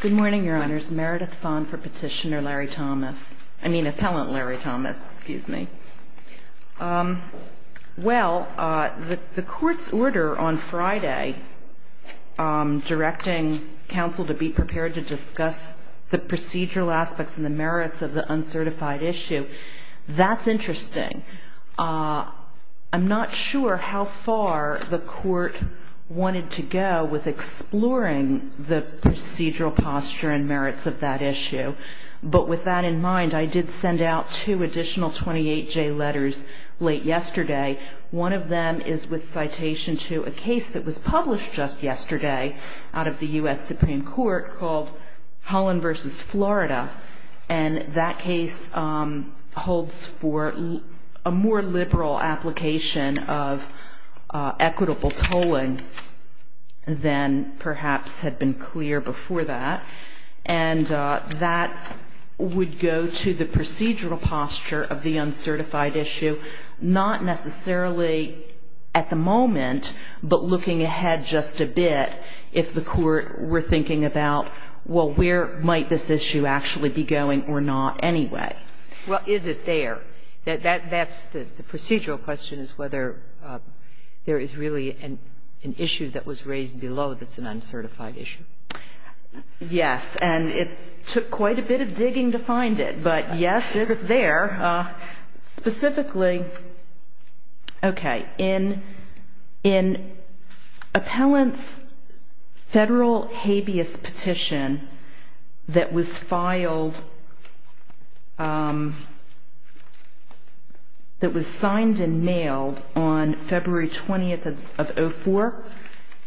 Good morning, Your Honors. Meredith Vaughn for Petitioner Larry Thomas. I mean, Appellant Larry Thomas, excuse me. Well, the Court's order on Friday directing counsel to be prepared to discuss the procedural aspects and the merits of the uncertified issue, that's interesting. I'm not sure how far the Court wanted to go with exploring the procedural posture and merits of that issue. But with that in mind, I did send out two additional 28J letters late yesterday. One of them is with citation to a case that was published just yesterday out of the U.S. Supreme Court called Holland v. Florida. And that case holds for a more liberal application of equitable tolling than perhaps had been clear before that. And that would go to the procedural posture of the uncertified issue, not necessarily at the And that's the one that I think would be helpful, just a bit, if the Court were thinking about, well, where might this issue actually be going or not anyway? Well, is it there? That's the procedural question, is whether there is really an issue that was raised below that's an uncertified issue. Yes, and it took quite a bit of digging to find it, but yes, it's there. Specifically, okay, in appellant's federal habeas petition that was filed that was signed and mailed on February 20th of 2004,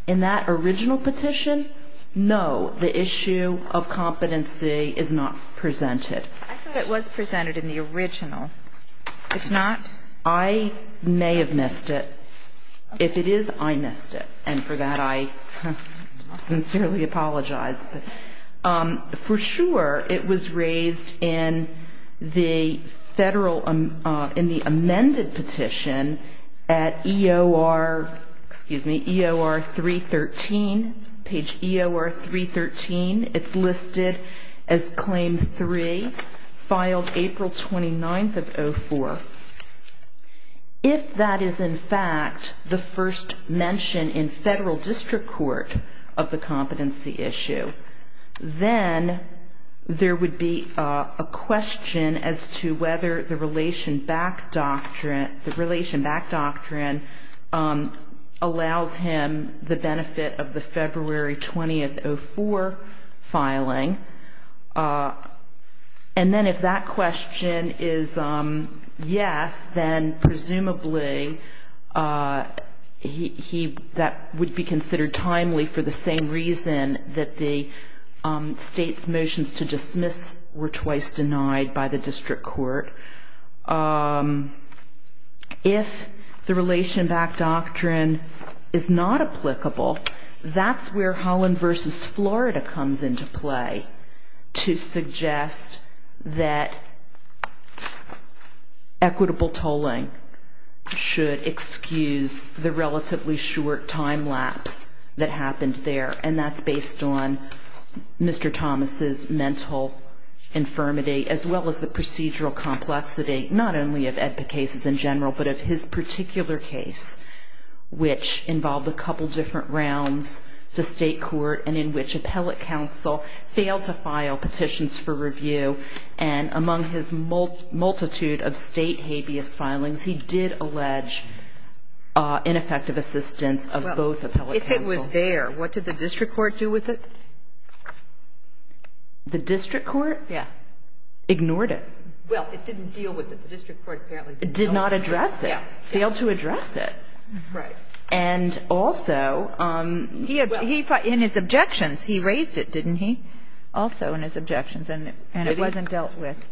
in that original petition, no, the issue of competency is not presented. I thought it was presented in the original. It's not? I may have missed it. If it is, I missed it. And for that, I sincerely apologize. For sure, it was raised in the federal, in the amended petition at EOR, excuse me, EOR 313, page EOR 313. It's listed as claim three, filed April 29th of 2004. If that is, in fact, the first mention in federal district court of the competency issue, then there would be a question as to whether the relation back doctrine, the relation back doctrine allows him the benefit of the February 20th of 2004 filing. And then if that question is yes, then presumably he, that would be considered timely for the same reason that the state's motions to dismiss were twice denied by the district court. If the relation back doctrine is not applicable, that's where Holland v. Florida comes into play to suggest that equitable tolling should excuse the relatively short time lapse that happened there. And that's based on Mr. Thomas's mental infirmity, as well as the procedural complexity, not only of EDPA cases in general, but of his particular case, which involved a couple different rounds to state court, and in which appellate counsel failed to file petitions for review, and among his multitude of state habeas filings, he did allege ineffective assistance of both appellate counsel. What did the district court do with it? The district court? Yeah. Ignored it. Well, it didn't deal with it. The district court apparently didn't deal with it. It did not address it. Yeah. Failed to address it. Right. And also, in his objections, he raised it, didn't he? Also in his objections, and it wasn't dealt with. Did he?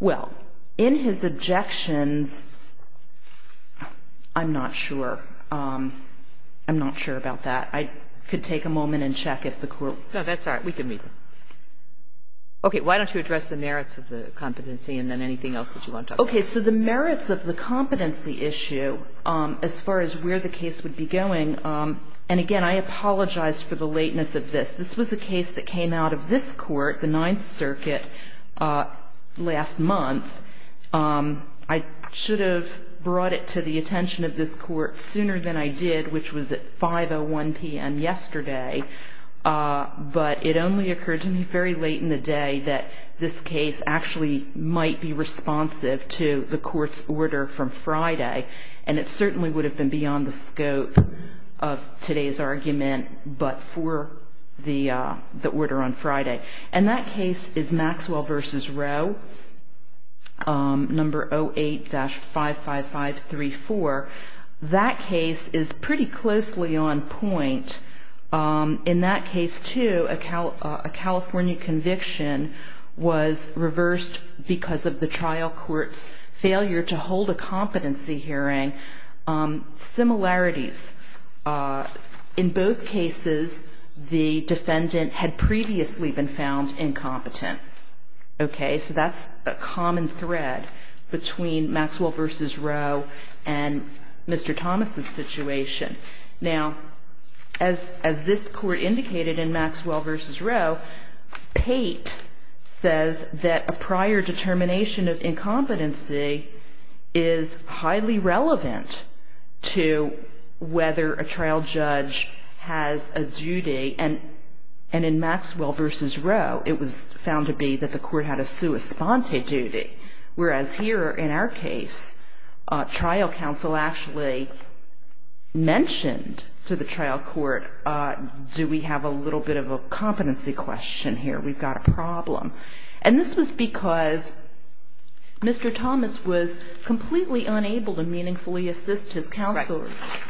Well, in his objections, I'm not sure. I'm not sure about that. I could take a moment and check if the court ---- No, that's all right. We can meet. Okay. Why don't you address the merits of the competency, and then anything else that you want to talk about? Okay. So the merits of the competency issue, as far as where the case would be going, and again, I apologize for the lateness of this. This was a case that came out of this court, the Ninth Circuit, last month. I should have brought it to the attention of this court sooner than I did, which was at 5.01 p.m. yesterday, but it only occurred to me very late in the day that this case actually might be responsive to the court's order from Friday, and it certainly would have been beyond the scope of today's argument, but for the order on Friday. And that case is Maxwell v. Rowe, number 08-55534. That case is pretty closely on point. In that case, too, a California conviction was reversed because of the trial court's failure to hold a competency hearing. Similarities. In both cases, the defendant had previously been found incompetent. Okay? So that's a common thread between Maxwell v. Rowe and Mr. Thomas' situation. Now, as this court indicated in Maxwell v. Rowe, Pate says that a prior determination of incompetency is highly relevant to whether a trial judge has a duty, and in Maxwell v. Rowe, it was found to be that the court had a sua sponte duty, whereas here in our case, trial counsel actually mentioned to the trial court, do we have a little bit of a competency question here? We've got a problem. And this was because Mr. Thomas was completely unable to meaningfully assist his counselor. Right.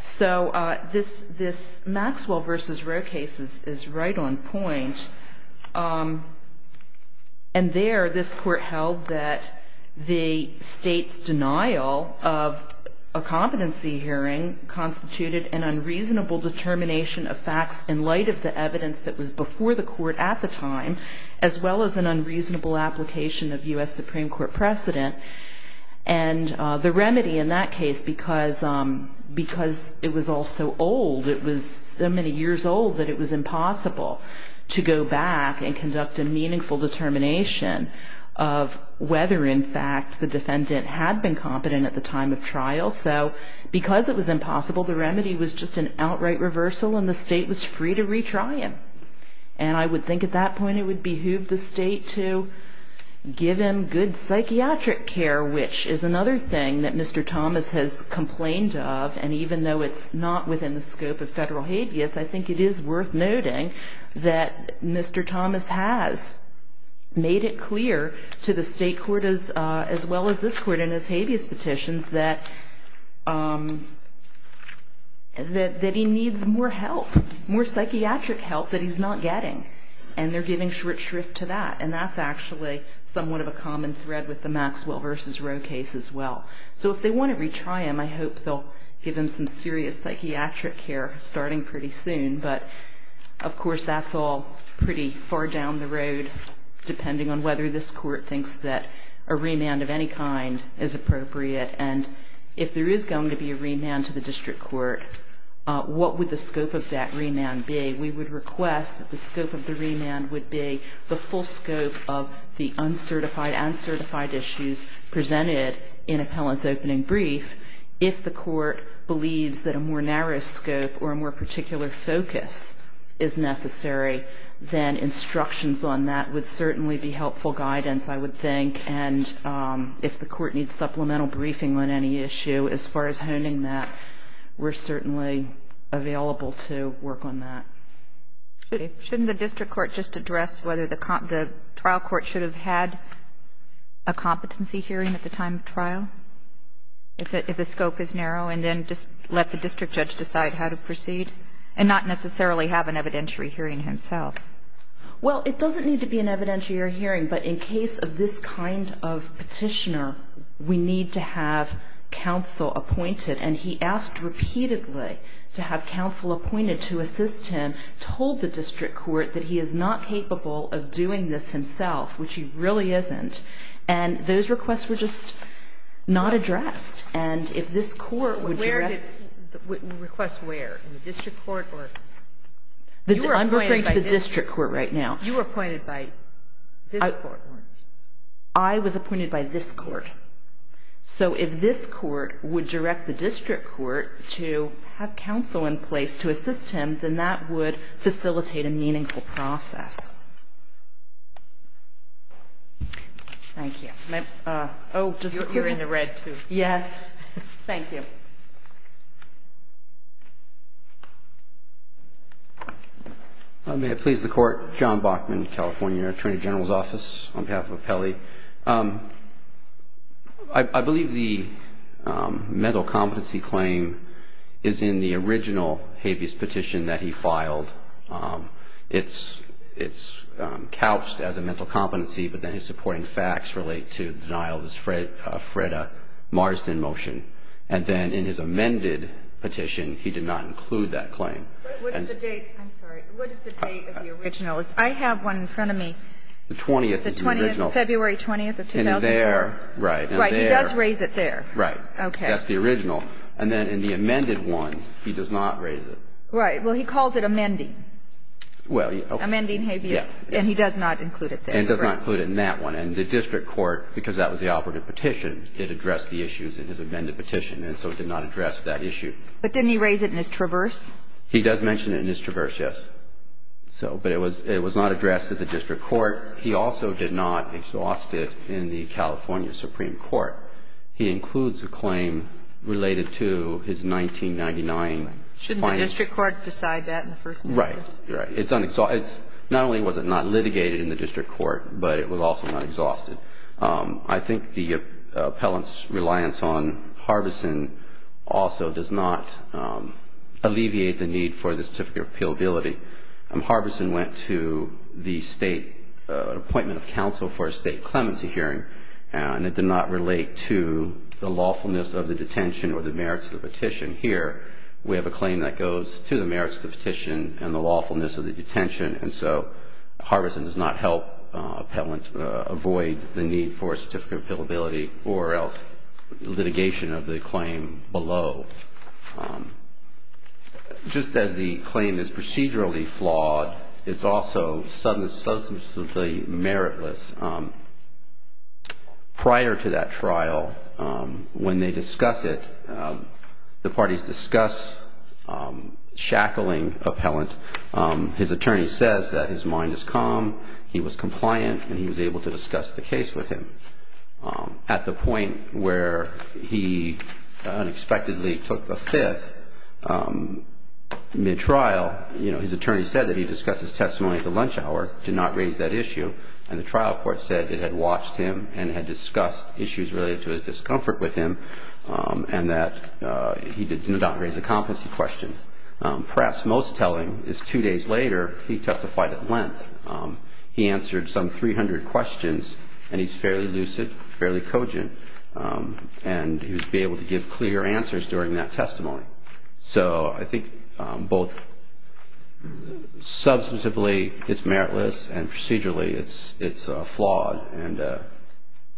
So this Maxwell v. Rowe case is right on point. And there, this court held that the state's denial of a competency hearing constituted an unreasonable determination of facts in light of the evidence that was before the court at the time, as well as an unreasonable application of U.S. Supreme Court precedent. And the remedy in that case, because it was all so old, it was so many years old that it was impossible to go back and conduct a meaningful determination of whether, in fact, the defendant had been competent at the time of trial. So because it was impossible, the remedy was just an outright reversal, and the state was free to retry him. And I would think at that point it would behoove the state to give him good psychiatric care, which is another thing that Mr. Thomas has complained of. And even though it's not within the scope of federal habeas, I think it is worth noting that Mr. Thomas has made it clear to the state court as well as this court in his habeas petitions that he needs more help, more psychiatric help that he's not getting. And they're giving short shrift to that. And that's actually somewhat of a common thread with the Maxwell v. Roe case as well. So if they want to retry him, I hope they'll give him some serious psychiatric care starting pretty soon. But, of course, that's all pretty far down the road, depending on whether this court thinks that a remand of any kind is appropriate. And if there is going to be a remand to the district court, what would the scope of that remand be? We would request that the scope of the remand would be the full scope of the uncertified and certified issues presented in appellant's opening brief. If the court believes that a more narrow scope or a more particular focus is necessary, then instructions on that would certainly be helpful guidance, I would think. And if the court needs supplemental briefing on any issue as far as honing that, we're certainly available to work on that. Shouldn't the district court just address whether the trial court should have had a competency hearing at the time of trial, if the scope is narrow, and then just let the district judge decide how to proceed and not necessarily have an evidentiary hearing himself? Well, it doesn't need to be an evidentiary hearing. But in case of this kind of petitioner, we need to have counsel appointed. And he asked repeatedly to have counsel appointed to assist him, told the district court that he is not capable of doing this himself, which he really isn't. And those requests were just not addressed. And if this court would direct the district court right now. You were appointed by this court, weren't you? I was appointed by this court. So if this court would direct the district court to have counsel in place to assist him, then that would facilitate a meaningful process. Thank you. You're in the red, too. Yes. Thank you. May it please the Court. John Bachman, California, Attorney General's Office, on behalf of Apelli. I believe the mental competency claim is in the original habeas petition that he filed. It's couched as a mental competency, but then his supporting facts relate to the denial of his FREDA Marsden motion. And then in his amended petition, he did not include that claim. What is the date? I'm sorry. What is the date of the original? I have one in front of me. The 20th is the original. The 20th. February 20th of 2004. And there. Right. And there. Right. He does raise it there. Right. Okay. That's the original. And then in the amended one, he does not raise it. Right. Well, he calls it amending. Well, okay. Amending habeas. Yes. And he does not include it there. And he does not include it in that one. And the district court, because that was the operative petition, did address the issues in his amended petition. And so it did not address that issue. But didn't he raise it in his traverse? He does mention it in his traverse, yes. So, but it was not addressed at the district court. He also did not exhaust it in the California Supreme Court. He includes a claim related to his 1999. Shouldn't the district court decide that in the first instance? Right. Right. It's not only was it not litigated in the district court, but it was also not exhausted. I think the appellant's reliance on Harbison also does not alleviate the need for the certificate of appealability. Harbison went to the state appointment of counsel for a state clemency hearing, and it did not relate to the lawfulness of the detention or the merits of the petition. Here, we have a claim that goes to the merits of the petition and the lawfulness of the detention. And so Harbison does not help appellants avoid the need for a certificate of appealability or else litigation of the claim below. Just as the claim is procedurally flawed, it's also substantively meritless. Prior to that trial, when they discuss it, the parties discuss shackling appellant. His attorney says that his mind is calm, he was compliant, and he was able to discuss the case with him. At the point where he unexpectedly took the fifth mid-trial, his attorney said that he discussed his testimony at the lunch hour, did not raise that issue, and the trial court said it had watched him and had discussed issues related to his discomfort with him and that he did not raise a competency question. And perhaps most telling is two days later, he testified at length. He answered some 300 questions, and he's fairly lucid, fairly cogent, and he was able to give clear answers during that testimony. So I think both substantively it's meritless and procedurally it's flawed. And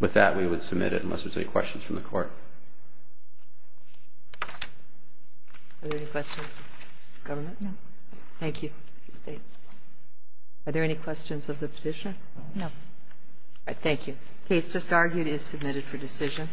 with that, we would submit it, unless there's any questions from the Court. Are there any questions of the government? No. Thank you. Are there any questions of the petitioner? No. All right, thank you. The case just argued is submitted for decision.